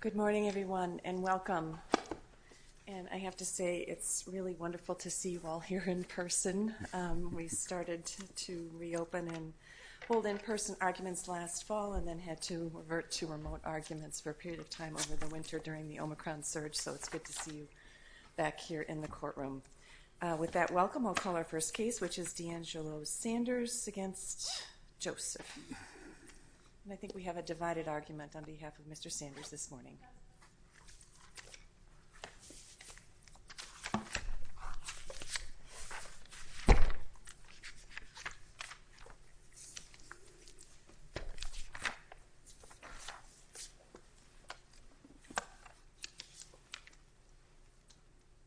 Good morning, everyone, and welcome. And I have to say, it's really wonderful to see you all here in person. We started to reopen and hold in-person arguments last fall and then had to revert to remote arguments for a period of time over the winter during the Omicron surge, so it's good to see you back here in the courtroom. With that welcome, we'll call our first case, which is DeAngelo Sanders v. Joseph. I think we have a divided argument on behalf of Mr. Sanders this morning.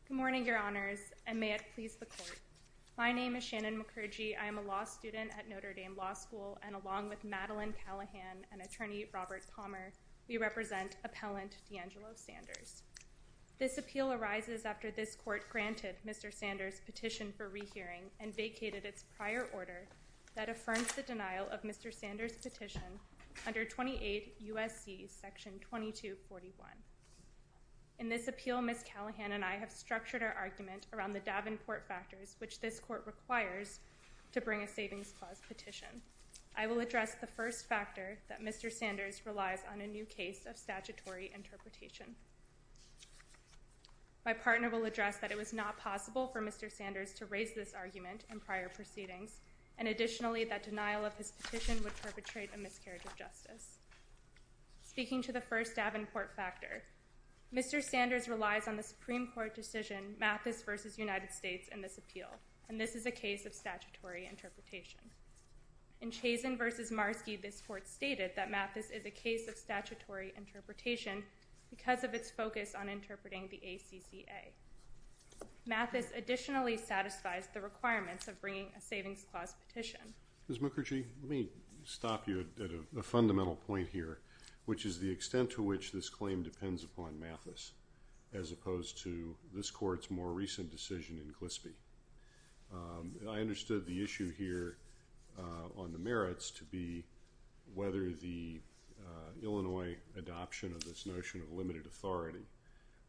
Good morning, Your Honors, and may it please the Court. My name is Shannon McCurgy. I am a law student at Notre Dame Law School and along with Madeline Callahan and Attorney Robert Palmer, we represent Appellant DeAngelo Sanders. This appeal arises after this Court granted Mr. Sanders' petition for rehearing and vacated its prior order that affirms the denial of Mr. Sanders' petition under 28 U.S.C. § 2241. In this appeal, Ms. Callahan and I have structured our argument around the Davenport factors which this Court requires to bring a savings clause petition. I will address the first factor, that Mr. Sanders relies on a new case of statutory interpretation. My partner will address that it was not possible for Mr. Sanders to raise this argument in prior proceedings, and additionally that denial of his petition would perpetrate a miscarriage of justice. Speaking to the first Davenport factor, Mr. Sanders relies on the Supreme Court decision, Mathis v. United States, in this appeal, and this is a case of statutory interpretation. In Chazin v. Marski, this Court stated that Mathis is a case of statutory interpretation because of its focus on interpreting the ACCA. Mathis additionally satisfies the requirements of bringing a savings clause petition. Ms. Mukherjee, let me stop you at a fundamental point here, which is the extent to which this claim depends upon Mathis, as opposed to this Court's more recent decision in Glispie. I understood the issue here on the merits to be whether the Illinois adoption of this notion of limited authority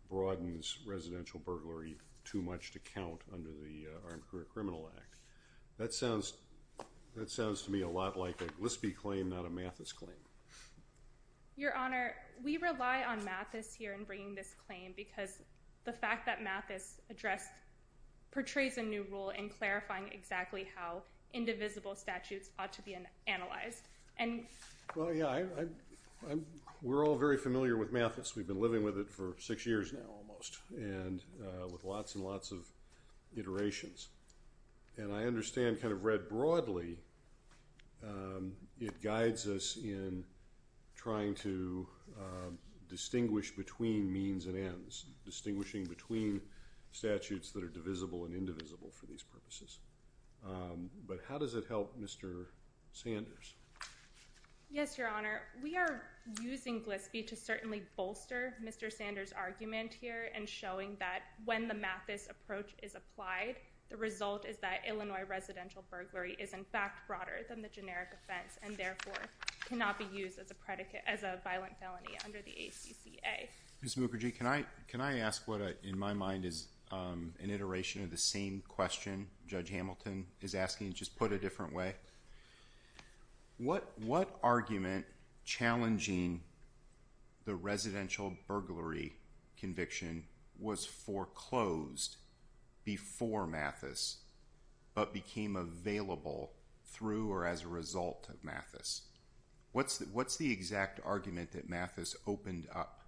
broadens residential burglary too much to count under the Armed Career Criminal Act. That sounds to me a lot like a Glispie claim, not a Mathis claim. Your Honor, we rely on Mathis here in bringing this claim because the fact that Mathis portrays a new role in clarifying exactly how indivisible statutes ought to be analyzed. Well, yeah, we're all very familiar with Mathis. We've been living with it for six years now almost, and with lots and lots of iterations. And I understand kind of read broadly, it guides us in trying to distinguish between means and ends, distinguishing between statutes that are divisible and indivisible for these purposes. But how does it help Mr. Sanders? Yes, Your Honor. We are using Glispie to certainly bolster Mr. Sanders' argument here and showing that when the Mathis approach is applied, the result is that Illinois residential burglary is in fact broader than the generic offense and therefore cannot be used as a violent felony under the ACCA. Ms. Mukherjee, can I ask what in my mind is an iteration of the same question Judge Hamilton is asking, just put a different way? What argument challenging the residential burglary conviction was foreclosed before Mathis but became available through or as a result of Mathis? What's the exact argument that Mathis opened up?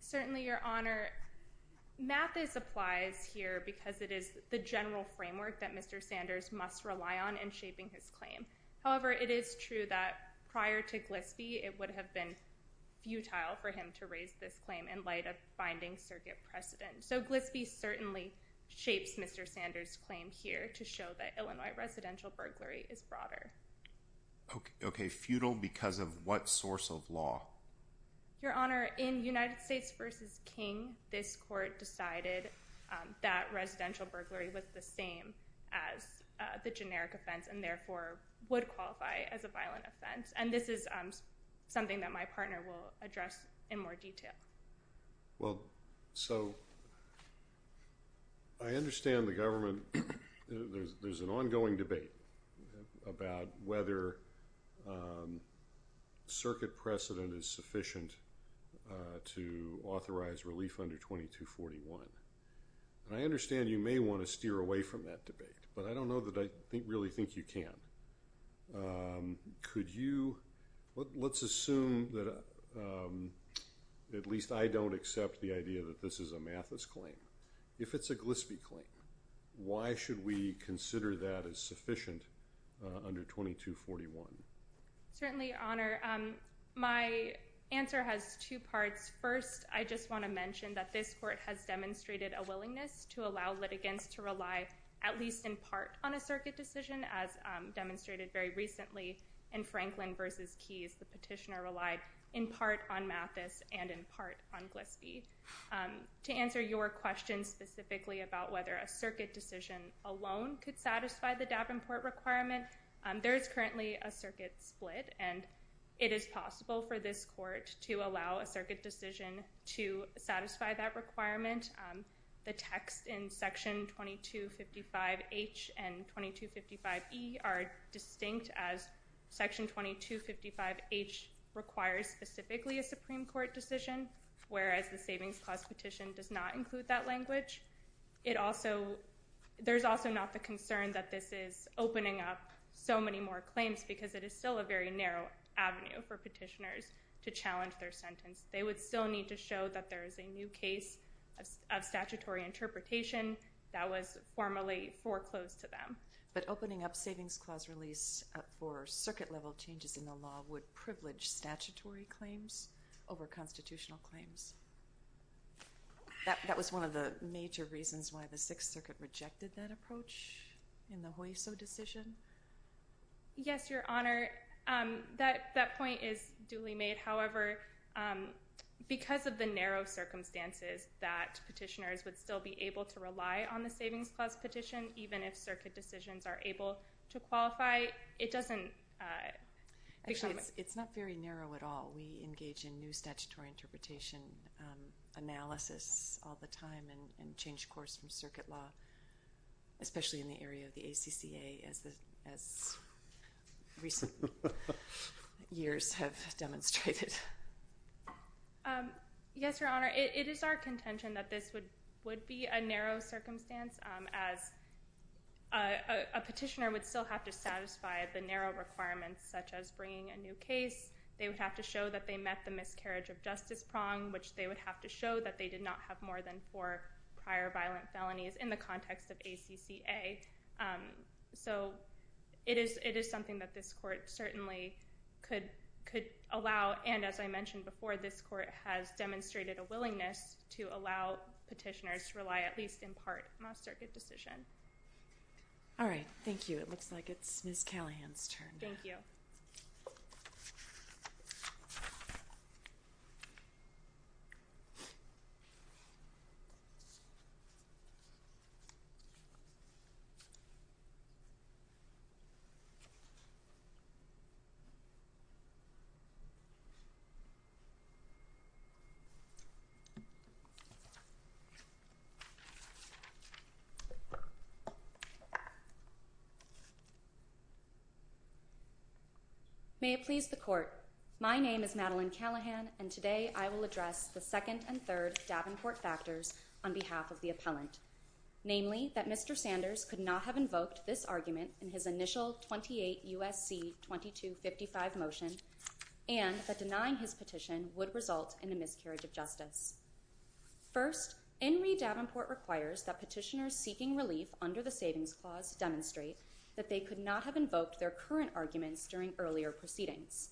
Certainly, Your Honor, Mathis applies here because it is the general framework that Mr. Sanders must rely on in shaping his claim. However, it is true that prior to Glispie, it would have been futile for him to raise this claim in light of binding circuit precedent. So Glispie certainly shapes Mr. Sanders' claim here to show that Illinois residential burglary is broader. Okay, futile because of what source of law? Your Honor, in United States v. King, this court decided that residential burglary was the same as the generic offense and therefore would qualify as a violent offense. And this is something that my partner will address in more detail. Well, so I understand the government, there's an ongoing debate about whether circuit precedent is sufficient to authorize relief under 2241. And I understand you may want to steer away from that debate, but I don't know that I really think you can. Could you, let's assume that at least I don't accept the idea that this is a Mathis claim. If it's a Glispie claim, why should we consider that as sufficient under 2241? Certainly, Your Honor, my answer has two parts. First, I just want to mention that this court has demonstrated a willingness to allow litigants to rely at least in part on a circuit decision as demonstrated very recently in Franklin v. Keys. The petitioner relied in part on Mathis and in part on Glispie. To answer your question specifically about whether a circuit decision alone could satisfy the Davenport requirement, there is currently a circuit split and it is possible for this court to allow a circuit decision to satisfy that requirement. The text in Section 2255H and 2255E are distinct as Section 2255H requires specifically a Supreme Court decision, whereas the Savings Clause petition does not include that language. There's also not the concern that this is opening up so many more claims because it is still a very narrow avenue for petitioners to challenge their sentence. They would still need to show that there is a new case of statutory interpretation that was formally foreclosed to them. But opening up Savings Clause release for circuit-level changes in the law would privilege statutory claims over constitutional claims? That was one of the major reasons why the Sixth Circuit rejected that approach in the Hueso decision? Yes, Your Honor, that point is duly made. However, because of the narrow circumstances that petitioners would still be able to rely on the Savings Clause petition, even if circuit decisions are able to qualify, it doesn't become a... Actually, it's not very narrow at all. We engage in new statutory interpretation analysis all the time and change course from circuit law, especially in the area of the ACCA as recent years have demonstrated. Yes, Your Honor, it is our contention that this would be a narrow circumstance as a petitioner would still have to satisfy the narrow requirements such as bringing a new case. They would have to show that they met the miscarriage of justice prong, which they would have to show that they did not have more than four prior violent felonies in the context of ACCA. So it is something that this court certainly could allow, and as I mentioned before, this court has demonstrated a willingness to allow petitioners to rely at least in part on a circuit decision. All right, thank you. It looks like it's Ms. Callahan's turn now. Thank you. Thank you. May it please the court. My name is Madeline Callahan, and today I will address the second and third Davenport factors on behalf of the appellant, namely that Mr. Sanders could not have invoked this argument in his initial 28 U.S.C. 2255 motion and that denying his petition would result in a miscarriage of justice. First, Enri Davenport requires that petitioners seeking relief under the Savings Clause demonstrate that they could not have invoked their current arguments during earlier proceedings.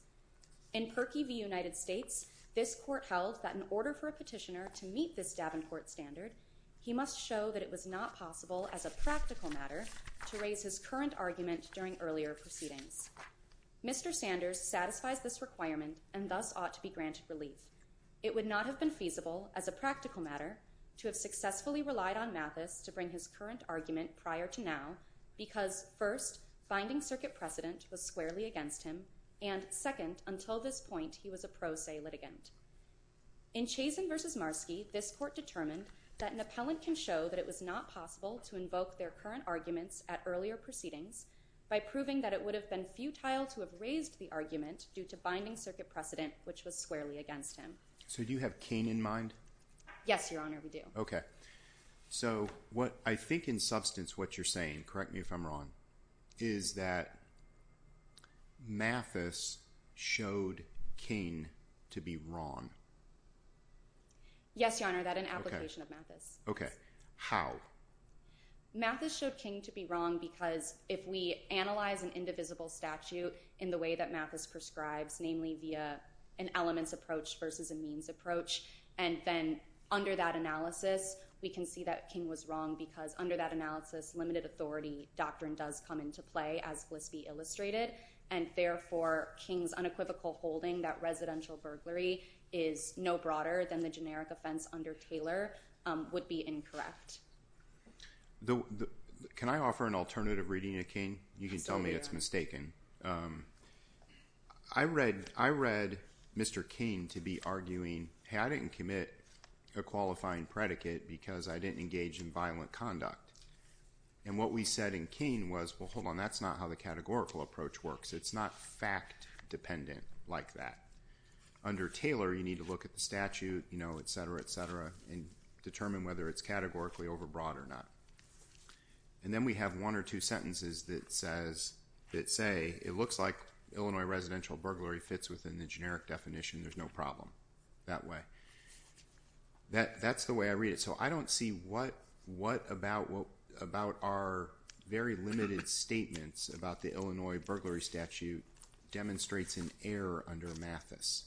In Perky v. United States, this court held that in order for a petitioner to meet this Davenport standard, he must show that it was not possible as a practical matter to raise his current argument during earlier proceedings. Mr. Sanders satisfies this requirement and thus ought to be granted relief. It would not have been feasible as a practical matter to have successfully relied on Mathis to bring his current argument prior to now because first, finding circuit precedent was squarely against him and second, until this point, he was a pro se litigant. In Chazin v. Marski, this court determined that an appellant can show that it was not possible to invoke their current arguments at earlier proceedings by proving that it would have been futile to have raised the argument due to finding circuit precedent, which was squarely against him. So do you have Kain in mind? Yes, Your Honor, we do. Okay. So what I think in substance what you're saying, correct me if I'm wrong, is that Mathis showed Kain to be wrong. Yes, Your Honor, that an application of Mathis. Okay. How? Mathis showed Kain to be wrong because if we analyze an indivisible statute in the way that Mathis prescribes, namely via an elements approach versus a means approach, and then under that analysis, we can see that Kain was wrong because under that analysis, limited authority doctrine does come into play, as Glispie illustrated, and therefore Kain's unequivocal holding that residential burglary is no broader than the generic offense under Taylor would be incorrect. Can I offer an alternative reading of Kain? You can tell me it's mistaken. I read Mr. Kain to be arguing, hey, I didn't commit a qualifying predicate because I didn't engage in violent conduct. And what we said in Kain was, well, hold on, that's not how the categorical approach works. It's not fact dependent like that. Under Taylor, you need to look at the statute, you know, et cetera, et cetera, and determine whether it's categorically overbroad or not. And then we have one or two sentences that say, it looks like Illinois residential burglary fits within the generic definition. There's no problem that way. That's the way I read it. So I don't see what about our very limited statements about the Illinois burglary statute demonstrates an error under Mathis.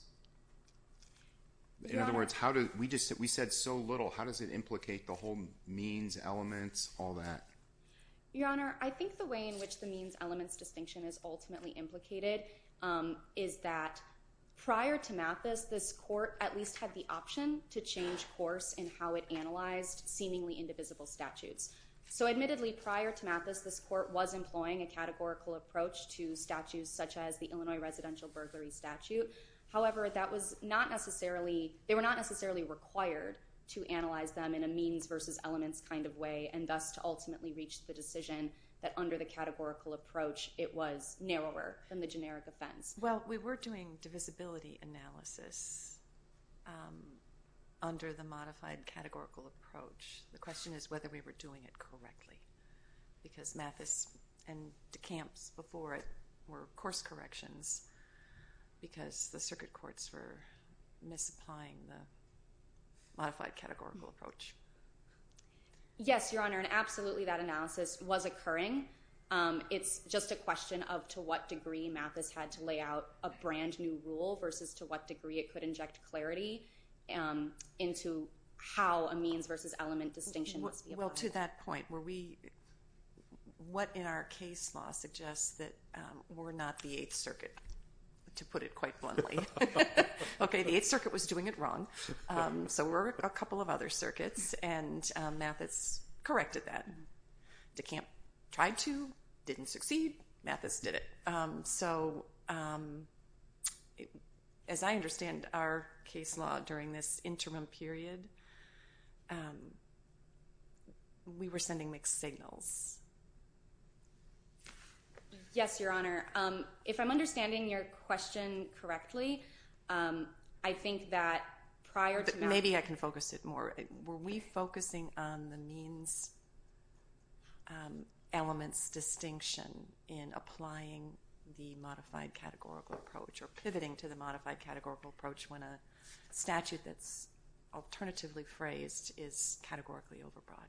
In other words, we said so little. How does it implicate the whole means, elements, all that? Your Honor, I think the way in which the means, elements distinction is ultimately implicated is that prior to Mathis, this court at least had the option to change course in how it analyzed seemingly indivisible statutes. So admittedly, prior to Mathis, this court was employing a categorical approach to statutes such as the Illinois residential burglary statute. However, they were not necessarily required to analyze them in a means versus elements kind of way and thus to ultimately reach the decision that under the categorical approach, it was narrower than the generic offense. Well, we were doing divisibility analysis under the modified categorical approach. The question is whether we were doing it correctly because Mathis and DeCamps before it were course corrections because the circuit courts were misapplying the modified categorical approach. Yes, Your Honor, and absolutely that analysis was occurring. It's just a question of to what degree Mathis had to lay out a brand new rule versus to what degree it could inject clarity into how a means versus element distinction must be applied. Well, to that point, what in our case law suggests that we're not the Eighth Circuit, to put it quite bluntly. Okay, the Eighth Circuit was doing it wrong. So we're a couple of other circuits and Mathis corrected that. DeCamps tried to, didn't succeed, Mathis did it. So as I understand our case law during this interim period, we were sending mixed signals. Yes, Your Honor, if I'm understanding your question correctly, I think that prior to that... Maybe I can focus it more. Were we focusing on the means elements distinction in applying the modified categorical approach or pivoting to the modified categorical approach when a statute that's alternatively phrased is categorically overbroad?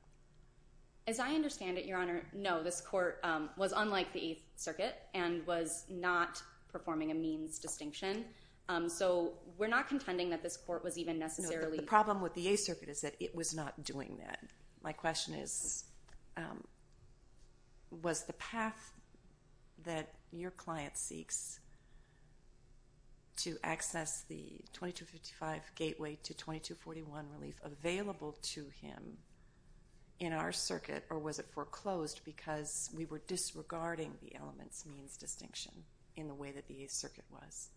As I understand it, Your Honor, no. This court was unlike the Eighth Circuit and was not performing a means distinction. So we're not contending that this court was even necessarily... The problem with the Eighth Circuit is that it was not doing that. My question is, was the path that your client seeks to access the 2255 gateway to 2241 relief available to him in our circuit or was it foreclosed because we were disregarding the elements means distinction in the way that the Eighth Circuit was?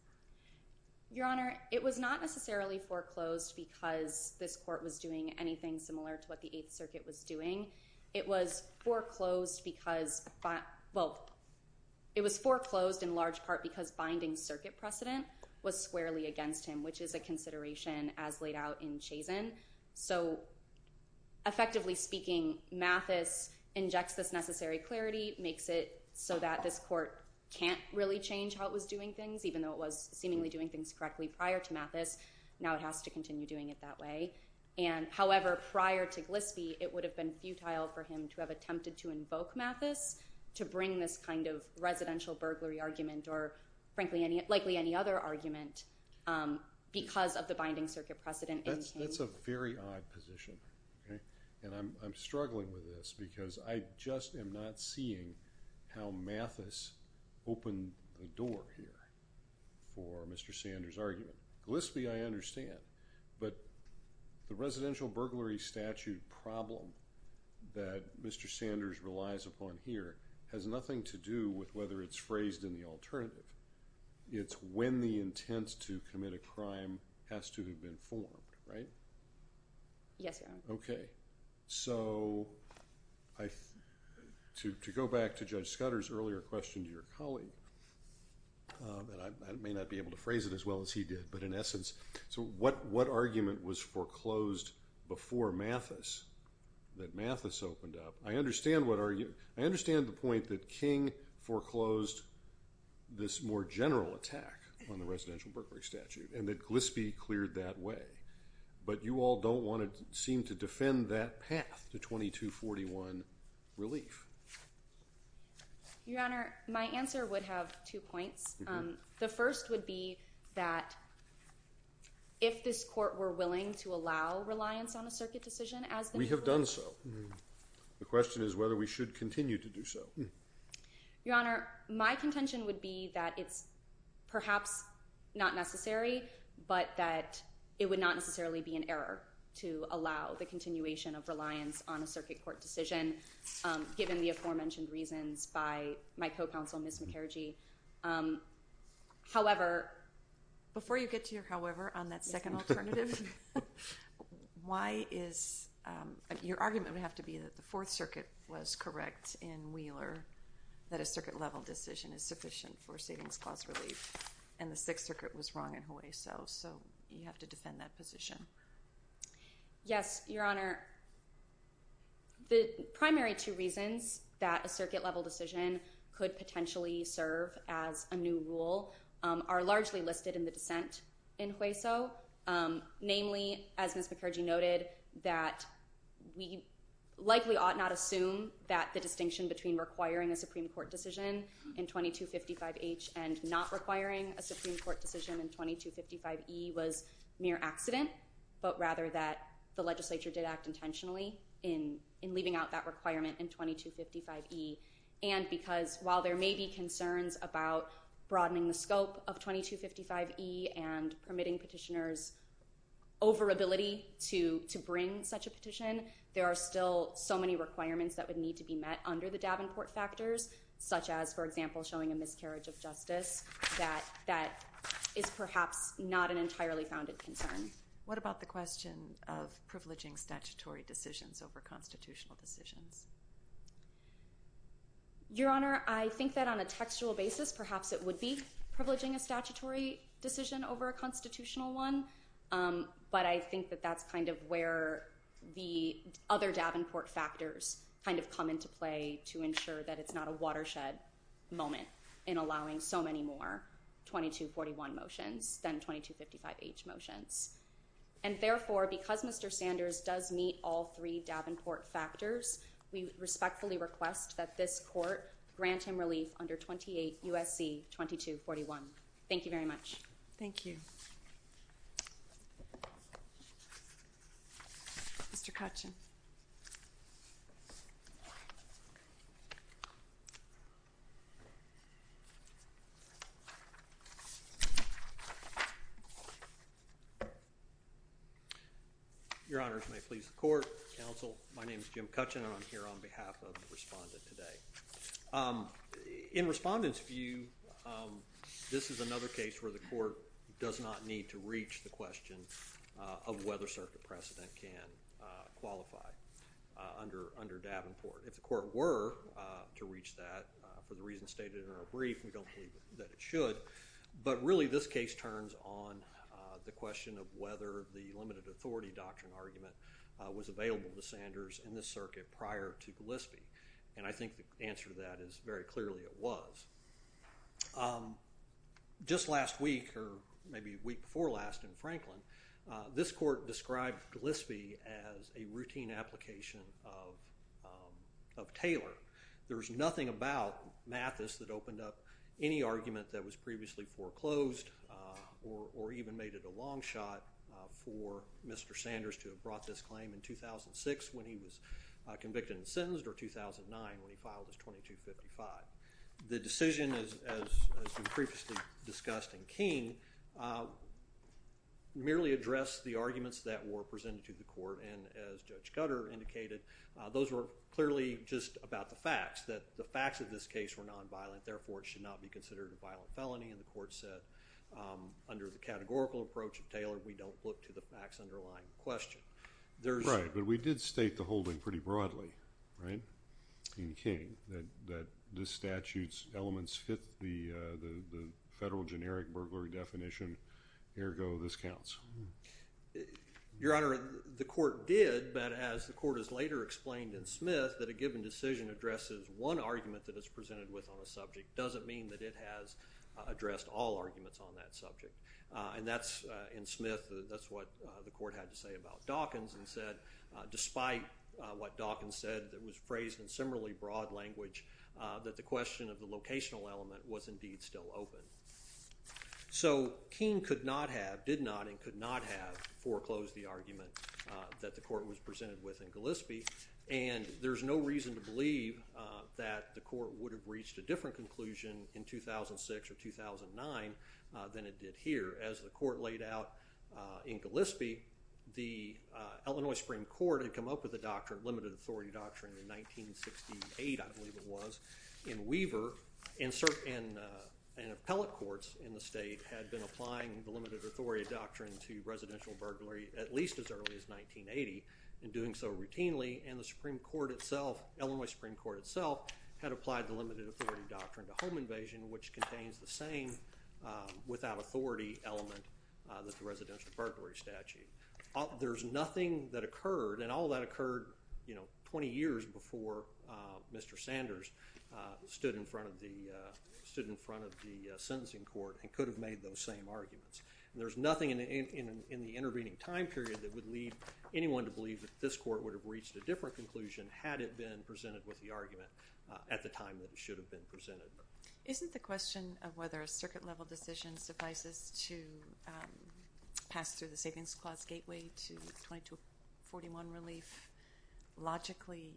Your Honor, it was not necessarily foreclosed because this court was doing anything similar to what the Eighth Circuit was doing. It was foreclosed because... Well, it was foreclosed in large part because binding circuit precedent was squarely against him, which is a consideration as laid out in Chazen. So effectively speaking, Mathis injects this necessary clarity, makes it so that this court can't really change how it was doing things even though it was seemingly doing things correctly prior to Mathis. Now it has to continue doing it that way. However, prior to Glispie, it would have been futile for him to have attempted to invoke Mathis to bring this kind of residential burglary argument or frankly likely any other argument because of the binding circuit precedent. That's a very odd position. And I'm struggling with this because I just am not seeing how Mathis opened the door here for Mr. Sanders' argument. Glispie I understand, but the residential burglary statute problem that Mr. Sanders relies upon here has nothing to do with whether it's phrased in the alternative. It's when the intent to commit a crime has to have been formed, right? Yes, Your Honor. Okay. So to go back to Judge Scudder's earlier question to your colleague, and I may not be able to phrase it as well as he did, but in essence, so what argument was foreclosed before Mathis that Mathis opened up? I understand the point that King foreclosed this more general attack on the residential burglary statute and that Glispie cleared that way, but you all don't want to seem to defend that path to 2241 relief. Your Honor, my answer would have two points. The first would be that if this court were willing to allow reliance on a circuit decision as the majority. We have done so. The question is whether we should continue to do so. Your Honor, my contention would be that it's perhaps not necessary, but that it would not necessarily be an error to allow the continuation of reliance on a circuit court decision given the aforementioned reasons by my co-counsel, Ms. McKergee. However. Before you get to your however on that second alternative, your argument would have to be that the Fourth Circuit was correct in Wheeler that a circuit level decision is sufficient for savings clause relief and the Sixth Circuit was wrong in Hueso. So you have to defend that position. Yes, Your Honor. The primary two reasons that a circuit level decision could potentially serve as a new rule are largely listed in the dissent in Hueso. Namely, as Ms. McKergee noted, that we likely ought not assume that the distinction between requiring a Supreme Court decision in 2255H and not requiring a Supreme Court decision in 2255E was mere accident, but rather that the legislature did act intentionally in leaving out that requirement in 2255E. And because while there may be concerns about broadening the scope of 2255E and permitting petitioners over ability to bring such a petition, there are still so many requirements that would need to be met under the Davenport factors, such as, for example, showing a miscarriage of justice that is perhaps not an entirely founded concern. What about the question of privileging statutory decisions over constitutional decisions? Your Honor, I think that on a textual basis perhaps it would be privileging a statutory decision over a constitutional one, but I think that that's kind of where the other Davenport factors kind of come into play to ensure that it's not a watershed moment in allowing so many more 2241 motions than 2255H motions. And therefore, because Mr. Sanders does meet all three Davenport factors, we respectfully request that this court grant him relief under 28 U.S.C. 2241. Thank you very much. Thank you. Mr. Kutchin. Your Honors, may it please the court, counsel, my name is Jim Kutchin and I'm here on behalf of the respondent today. In respondent's view, this is another case where the court does not need to reach the question of whether circuit precedent can qualify under Davenport. If the court were to reach that, for the reasons stated in our brief, we don't believe that it should. But really this case turns on the question of whether the limited authority doctrine argument was available to Sanders in this circuit prior to Gillespie. And I think the answer to that is very clearly it was. Just last week or maybe a week before last in Franklin, this court described Gillespie as a routine application of Taylor. There was nothing about Mathis that opened up any argument that was previously foreclosed or even made it a long shot for Mr. Sanders to have brought this claim in 2006 when he was convicted and sentenced or 2009 when he filed his 2255. The decision, as we previously discussed in King, merely addressed the arguments that were presented to the court. And as Judge Cutter indicated, those were clearly just about the facts, that the facts of this case were nonviolent, therefore it should not be considered a violent felony. And the court said under the categorical approach of Taylor, we don't look to the facts underlying the question. Right, but we did state the holding pretty broadly, right, in King, that this statute's elements fit the federal generic burglary definition, ergo this counts. Your Honor, the court did, but as the court has later explained in Smith, that a given decision addresses one argument that it's presented with on a subject doesn't mean that it has addressed all arguments on that subject. And that's, in Smith, that's what the court had to say about Dawkins and said, despite what Dawkins said that was phrased in similarly broad language, that the question of the locational element was indeed still open. So King could not have, did not and could not have, foreclosed the argument that the court was presented with in Gillespie. And there's no reason to believe that the court would have reached a different conclusion in 2006 or 2009 than it did here. As the court laid out in Gillespie, the Illinois Supreme Court had come up with a doctrine, limited authority doctrine in 1968, I believe it was, in Weaver. And appellate courts in the state had been applying the limited authority doctrine to residential burglary at least as early as 1980 and doing so routinely. And the Supreme Court itself, Illinois Supreme Court itself had applied the limited authority doctrine to home invasion, which contains the same without authority element that the residential burglary statute. There's nothing that occurred and all that occurred, you know, 20 years before Mr. Sanders stood in front of the, stood in front of the sentencing court and could have made those same arguments. And there's nothing in, in, in the intervening time period that would lead anyone to believe that this court would have reached a different conclusion had it been presented with the argument at the time that it should have been presented. Isn't the question of whether a circuit level decision suffices to pass through the savings clause gateway to 2241 relief logically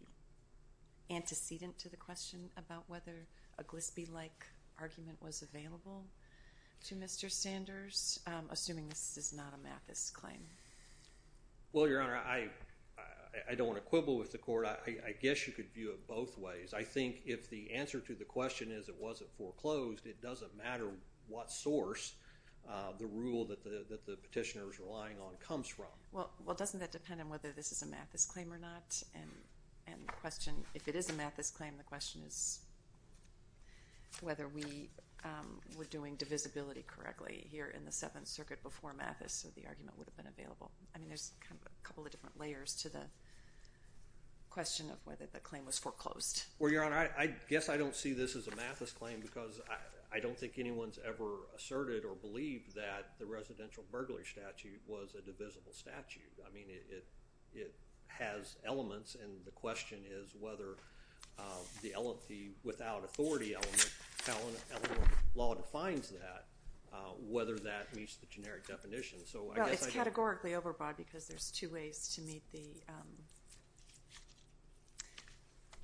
antecedent to the question about whether a Gillespie-like argument was available to Mr. Sanders, assuming this is not a Mathis claim? Well, Your Honor, I, I don't want to quibble with the court. I guess you could view it both ways. I think if the answer to the question is it wasn't foreclosed, it doesn't matter what source the rule that the, that the petitioners relying on comes from. Well, well, doesn't that depend on whether this is a Mathis claim or not? And, and the question, if it is a Mathis claim, the question is whether we were doing divisibility correctly here in the I mean, there's kind of a couple of different layers to the question of whether the claim was foreclosed. Well, Your Honor, I guess I don't see this as a Mathis claim because I, I don't think anyone's ever asserted or believed that the residential burglar statute was a divisible statute. I mean, it, it, it has elements. And the question is whether the LLP without authority element, how the law defines that, whether that meets the generic definition. So it's categorically overbought because there's two ways to meet the,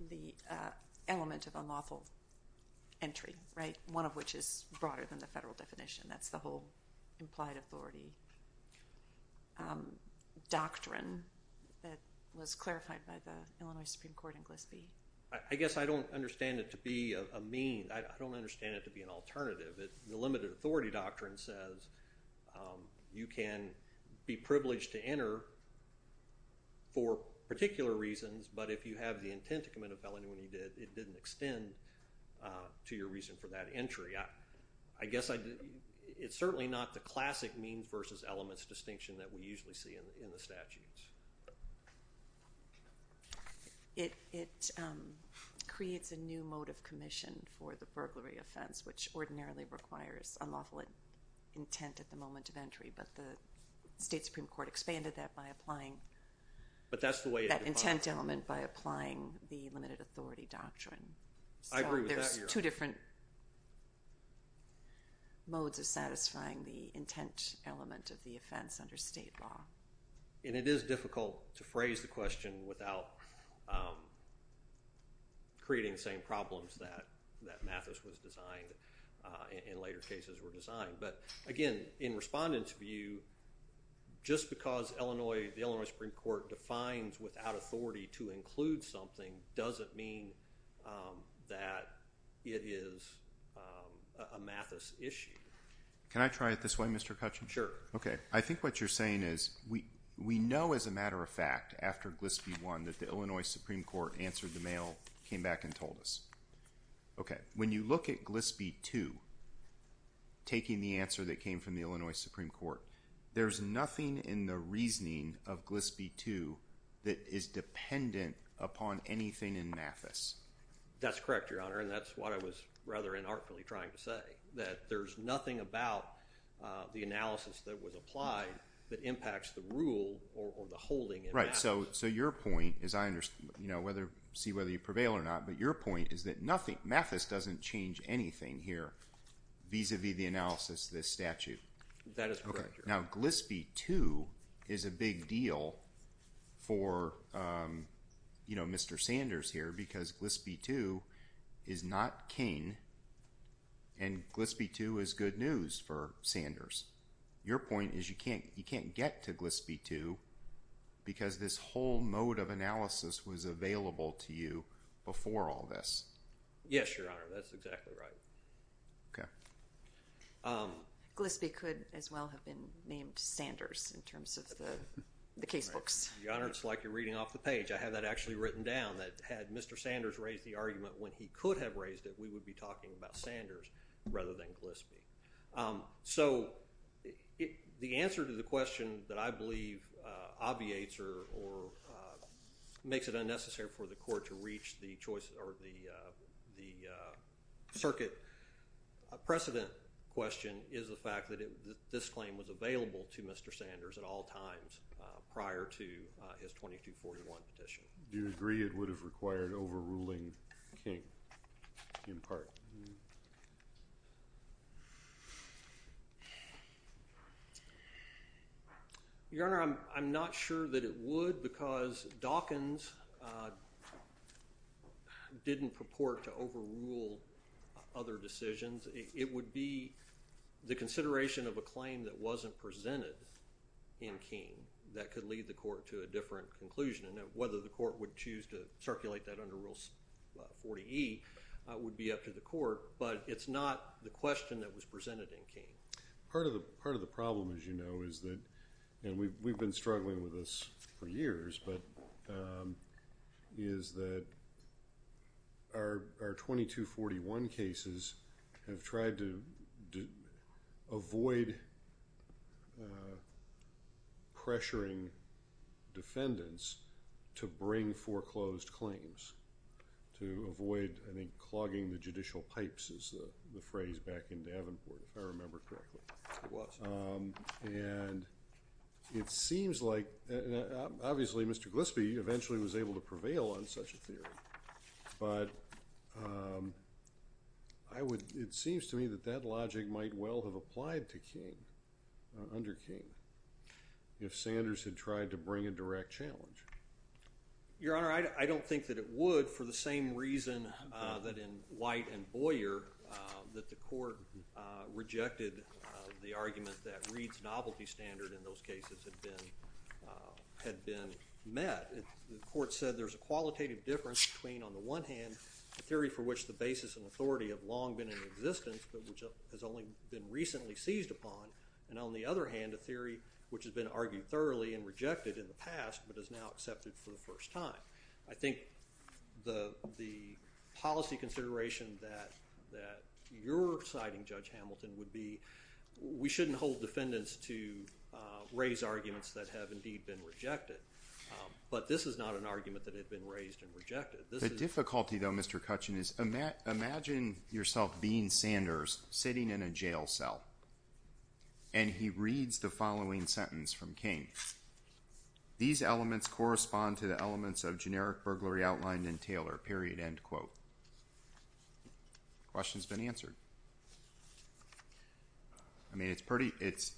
the element of unlawful entry, right? One of which is broader than the federal definition. That's the whole implied authority doctrine that was clarified by the Illinois Supreme court in Glisby. I guess I don't understand it to be a mean, I don't understand it to be an alternative. The limited authority doctrine says you can be privileged to enter for particular reasons, but if you have the intent to commit a felony, when you did, it didn't extend to your reason for that entry. I guess I did. It's certainly not the classic means versus elements distinction that we usually see in the, in the statutes. It, it creates a new mode of commission for the burglary offense, which ordinarily requires unlawful intent at the moment of entry. But the state Supreme court expanded that by applying, but that's the way that intent element by applying the limited authority doctrine. There's two different modes of satisfying the intent element of the offense under state law. And it is difficult to phrase the question without creating the same problems that, that Mathis was designed in later cases were designed. But again, in respondents view, just because Illinois, the Illinois Supreme court defines without authority to include something doesn't mean that it is a Mathis issue. Can I try it this way, Mr. Cutchin? Sure. Okay. I think what you're saying is we, we know as a matter of fact after Glisby one that the Illinois Supreme court answered, the mail came back and told us, okay. When you look at Glisby two, taking the answer that came from the Illinois Supreme court, there's nothing in the reasoning of Glisby two that is dependent upon anything in Mathis. That's correct, Your Honor. And that's what I was rather inartfully trying to say that there's nothing about the analysis that was applied that impacts the rule or the holding. Right. So, so your point is I understand, you know, whether see whether you prevail or not, but your point is that nothing, Mathis doesn't change anything here vis-a-vis the analysis, this statute. That is correct. Now Glisby two is a big deal for, um, you know, Mr. Sanders here because Glisby two is not King and Glisby two is good news for Sanders. Your point is you can't, you can't get to Glisby two because this whole mode of analysis was available to you before all this. Yes, Your Honor. That's exactly right. Okay. Um, Glisby could as well have been named Sanders in terms of the case books. Your Honor, it's like you're reading off the page. I have that actually written down that had Mr. Sanders raised the argument when he could have raised it, we would be talking about Sanders rather than Glisby. Um, so it, the answer to the question that I believe, uh, obviates or, or, uh, makes it unnecessary for the court to reach the choice or the, uh, the, uh, circuit precedent question is the fact that this claim was available to Mr. Sanders at all times prior to his 2241 petition. Do you agree it would have required overruling King in part? Your Honor, I'm, I'm not sure that it would because Dawkins, uh, didn't purport to overrule other decisions. It would be the consideration of a claim that wasn't presented in King that could lead the court to a different conclusion and whether the court would choose to circulate that under rules 40 E would be up to the court, but it's not the question that was presented in King. Part of the, part of the problem is, you know, is that, and we've, we've been struggling with this for years, but, um, is that our, our 2241 cases have tried to avoid, uh, pressuring defendants to bring foreclosed claims to avoid, I think, clogging the judicial pipes is the phrase back in Davenport if I remember correctly. Um, and it seems like, uh, obviously Mr. Glispie, he eventually was able to prevail on such a theory, but, um, I would, it seems to me that that logic might well have applied to King, uh, under King if Sanders had tried to bring a direct challenge. Your Honor, I don't think that it would for the same reason, uh, that in White and Boyer, uh, that the court, uh, rejected, uh, the argument that Reed's novelty standard in those cases had been, uh, had been met. The court said there's a qualitative difference between on the one hand, the theory for which the basis and authority have long been in existence, but which has only been recently seized upon. And on the other hand, a theory which has been argued thoroughly and rejected in the past, but is now accepted for the first time. I think the, the policy consideration that, that you're citing judge Hamilton would be, we shouldn't hold defendants to, uh, raise arguments that have indeed been rejected. Um, but this is not an argument that had been raised and rejected. The difficulty though, Mr. Cutchin is, uh, Matt, imagine yourself being Sanders sitting in a jail cell and he reads the following sentence from King. These elements correspond to the elements of generic burglary outlined in question has been answered. I mean, it's pretty, it's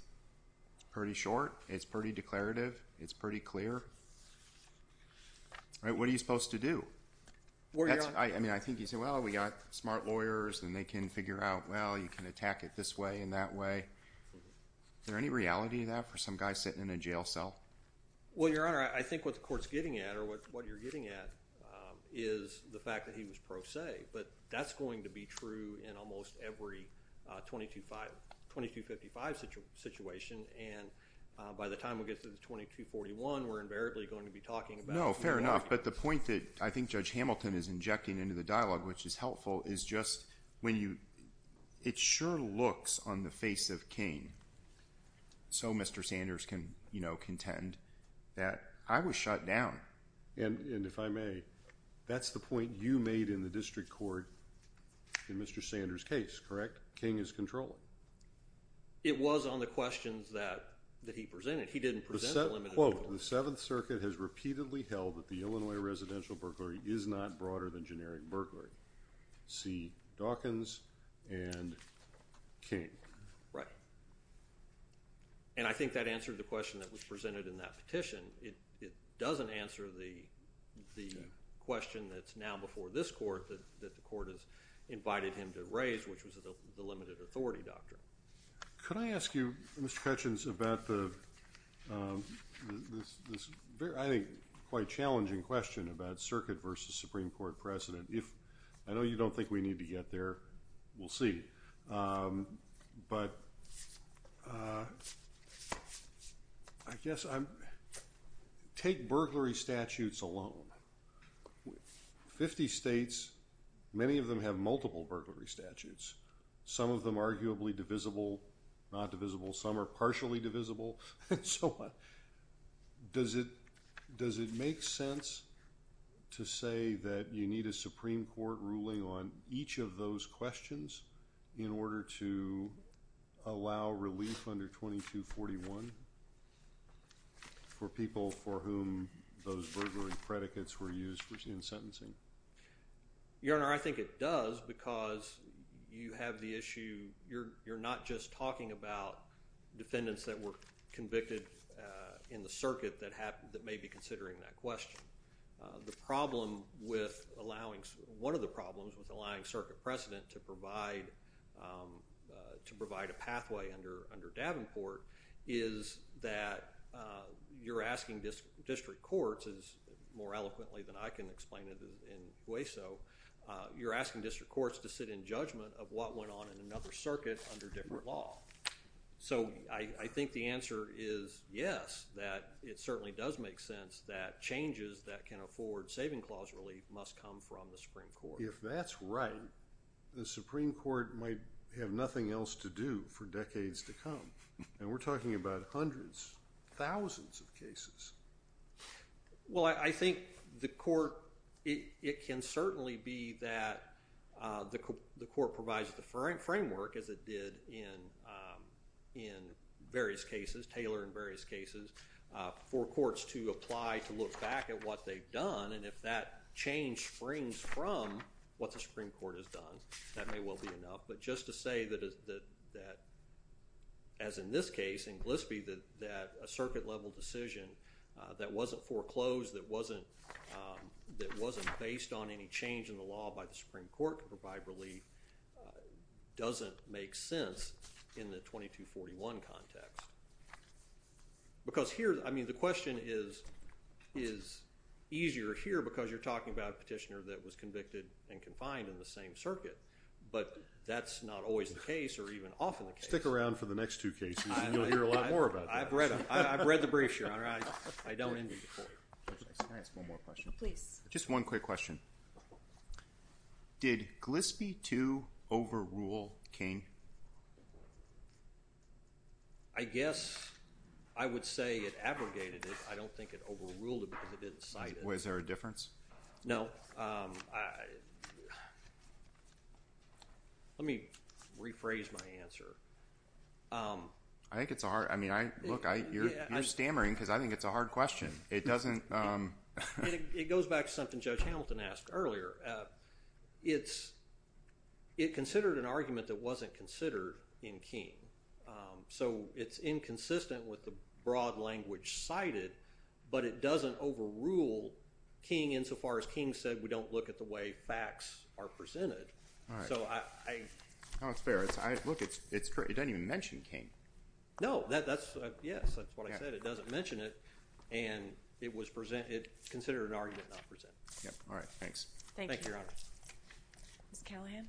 pretty short. It's pretty declarative. It's pretty clear, right? What are you supposed to do? I mean, I think you say, well, we got smart lawyers and they can figure out, well, you can attack it this way and that way. Is there any reality that for some guys sitting in a jail cell? Well, your Honor, I think what the court's getting at or what, what you're getting at, um, is the fact that he was pro se, but that's going to be true in almost every, uh, 22, five, 22, 55 such a situation. And, uh, by the time we get to the 2241, we're invariably going to be talking about. Fair enough. But the point that I think judge Hamilton is injecting into the dialogue, which is helpful is just when you, it sure looks on the face of King. So Mr. Sanders can, you know, contend that I was shut down. And, and if I may, that's the point you made in the district court in Mr. Sanders case, correct? King is controlling. It was on the questions that, that he presented. He didn't present. Well, the seventh circuit has repeatedly held that the Illinois residential burglary is not broader than generic burglary. See Dawkins and King. Right. And I think that answered the question that was presented in that petition. It, it doesn't answer the, the question that's now before this court, that, that the court has invited him to raise, which was the limited authority doctrine. Could I ask you, Mr. Cutchins about the, um, this, this very, I think quite challenging question about circuit versus Supreme court president. If I know you don't think we need to get there, we'll see. Um, but, uh, I guess I'm, take burglary statutes alone with 50 States. Many of them have multiple burglary statutes. Some of them arguably divisible, not divisible. Some are partially divisible. So what does it, does it make sense to say that you need a Supreme court ruling on each of those questions in order to allow relief under 2241 for people for whom those burglary predicates were used for in sentencing? Your Honor, I think it does because you have the issue. You're, you're not just talking about defendants that were convicted, uh, in the circuit that happened, that may be considering that question. Uh, the problem with allowing one of the problems with the line circuit precedent to provide, um, uh, to provide a pathway under, under Davenport is that, uh, you're asking this district courts is more eloquently than I can explain it in way. So, uh, you're asking district courts to sit in judgment of what went on in another circuit under different law. So I think the answer is yes, that it certainly does make sense that changes that can afford saving clause relief must come from the Supreme court. If that's right, the Supreme court might have nothing else to do for decades to come. And we're talking about hundreds, thousands of cases. Well, I think the court, it, it can certainly be that, uh, the, the court provides the Frank framework as it did in, um, in various cases, Taylor in various cases, uh, and if that change springs from what the Supreme court has done, that may well be enough. But just to say that, that, that, as in this case in Glispie, that, that a circuit level decision, uh, that wasn't foreclosed, that wasn't, um, that wasn't based on any change in the law by the Supreme court to provide relief, uh, doesn't make sense in the 2241 context. Because here, I mean, the question is, is easier here, because you're talking about a petitioner that was convicted and confined in the same circuit, but that's not always the case or even often the case. Stick around for the next two cases. You'll hear a lot more about that. I've read them. I've read the brief. Sure. All right. I don't. Can I ask one more question, please? Just one quick question. Did Glispie to overrule Kane? I guess I would say it abrogated it. I don't think it overruled it because it didn't cite it. Was there a difference? No. Um, I, let me rephrase my answer. Um, I think it's a hard, I mean, I look, I, you're stammering because I think it's a hard question. It doesn't, um, it goes back to something judge Hamilton asked earlier. Uh, it's, it considered an argument that wasn't considered in King. Um, so it's inconsistent with the broad language cited, but it doesn't overrule King insofar as King said, we don't look at the way facts are presented. So I, I, Oh, it's fair. It's I look, it's, it's true. It doesn't even mention King. No, that that's a, yes. That's what I said. It doesn't mention it and it was presented considered an argument not present. Yep. All right. Thanks. Thank you. Ms. Callahan.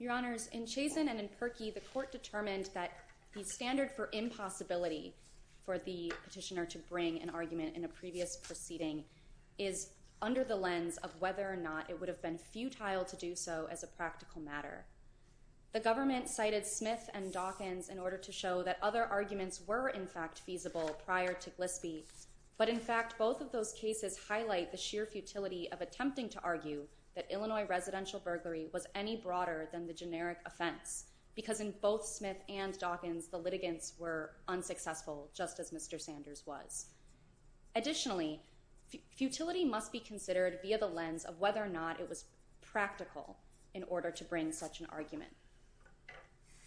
Your honors in Chazen and in Perky, the court determined that the standard for impossibility for the petitioner to bring an argument in a previous proceeding is under the lens of whether or not it would have been futile to do so as a practical matter. The government cited Smith and Dawkins in order to show that other arguments were in fact feasible prior to Glispie. But in fact, both of those cases highlight the sheer futility of attempting to argue that Illinois residential burglary was any broader than the generic offense because in both Smith and Dawkins, the litigants were unsuccessful just as Mr. Sanders was. Additionally, futility must be considered via the lens of whether or not it was practical in order to bring such an argument.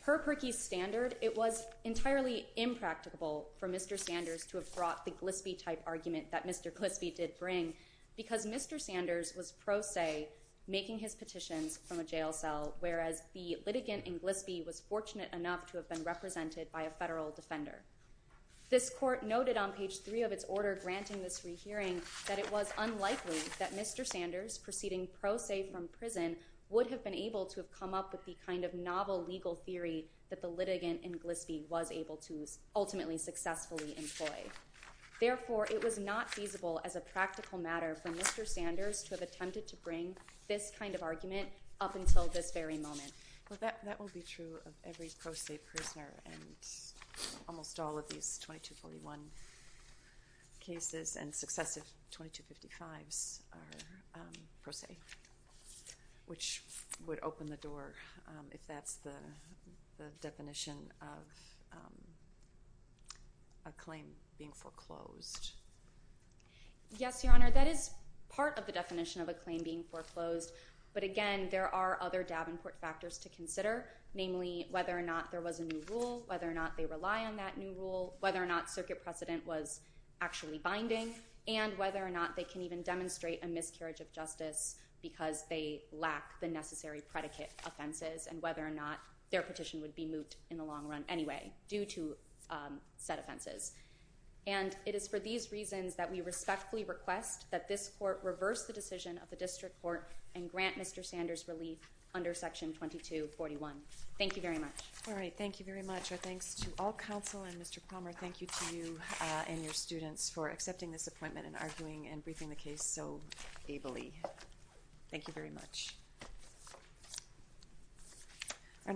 Per Perky's standard, it was entirely impracticable for Mr. Sanders to have brought the Glispie type argument that Mr. Glispie did bring because Mr. Sanders was pro se making his petitions from a jail cell. Whereas the litigant in Glispie was fortunate enough to have been represented by a federal defender. This court noted on page three of its order granting this rehearing that it was unlikely that Mr. Sanders proceeding pro se from prison would have been able to have come up with the kind of novel legal theory that the litigant in Glispie was able to ultimately successfully employ. Therefore it was not feasible as a practical matter for Mr. Sanders to have attempted to bring this kind of argument up until this very moment. Well, that, that will be true of every pro se prisoner and almost all of these 2241 cases and successive 2255s are pro se, which would open the door if that's the definition of a claim being foreclosed. Yes, Your Honor. That is part of the definition of a claim being foreclosed. But again, there are other Davenport factors to consider, namely whether or not there was a new rule, whether or not they rely on that new rule, whether or not circuit precedent was actually binding and whether or not they can even demonstrate a miscarriage of justice because they lack the necessary predicate offenses and whether or not their petition would be moved in the long run anyway due to set offenses. And it is for these reasons that we respectfully request that this court reverse the decision of the district court and grant Mr. Sanders relief under section 2241. Thank you very much. All right. Thank you very much. Our thanks to all counsel and Mr. Palmer. Thank you to you and your students for accepting this appointment and arguing and briefing the case so ably. Thank you very much. Our next.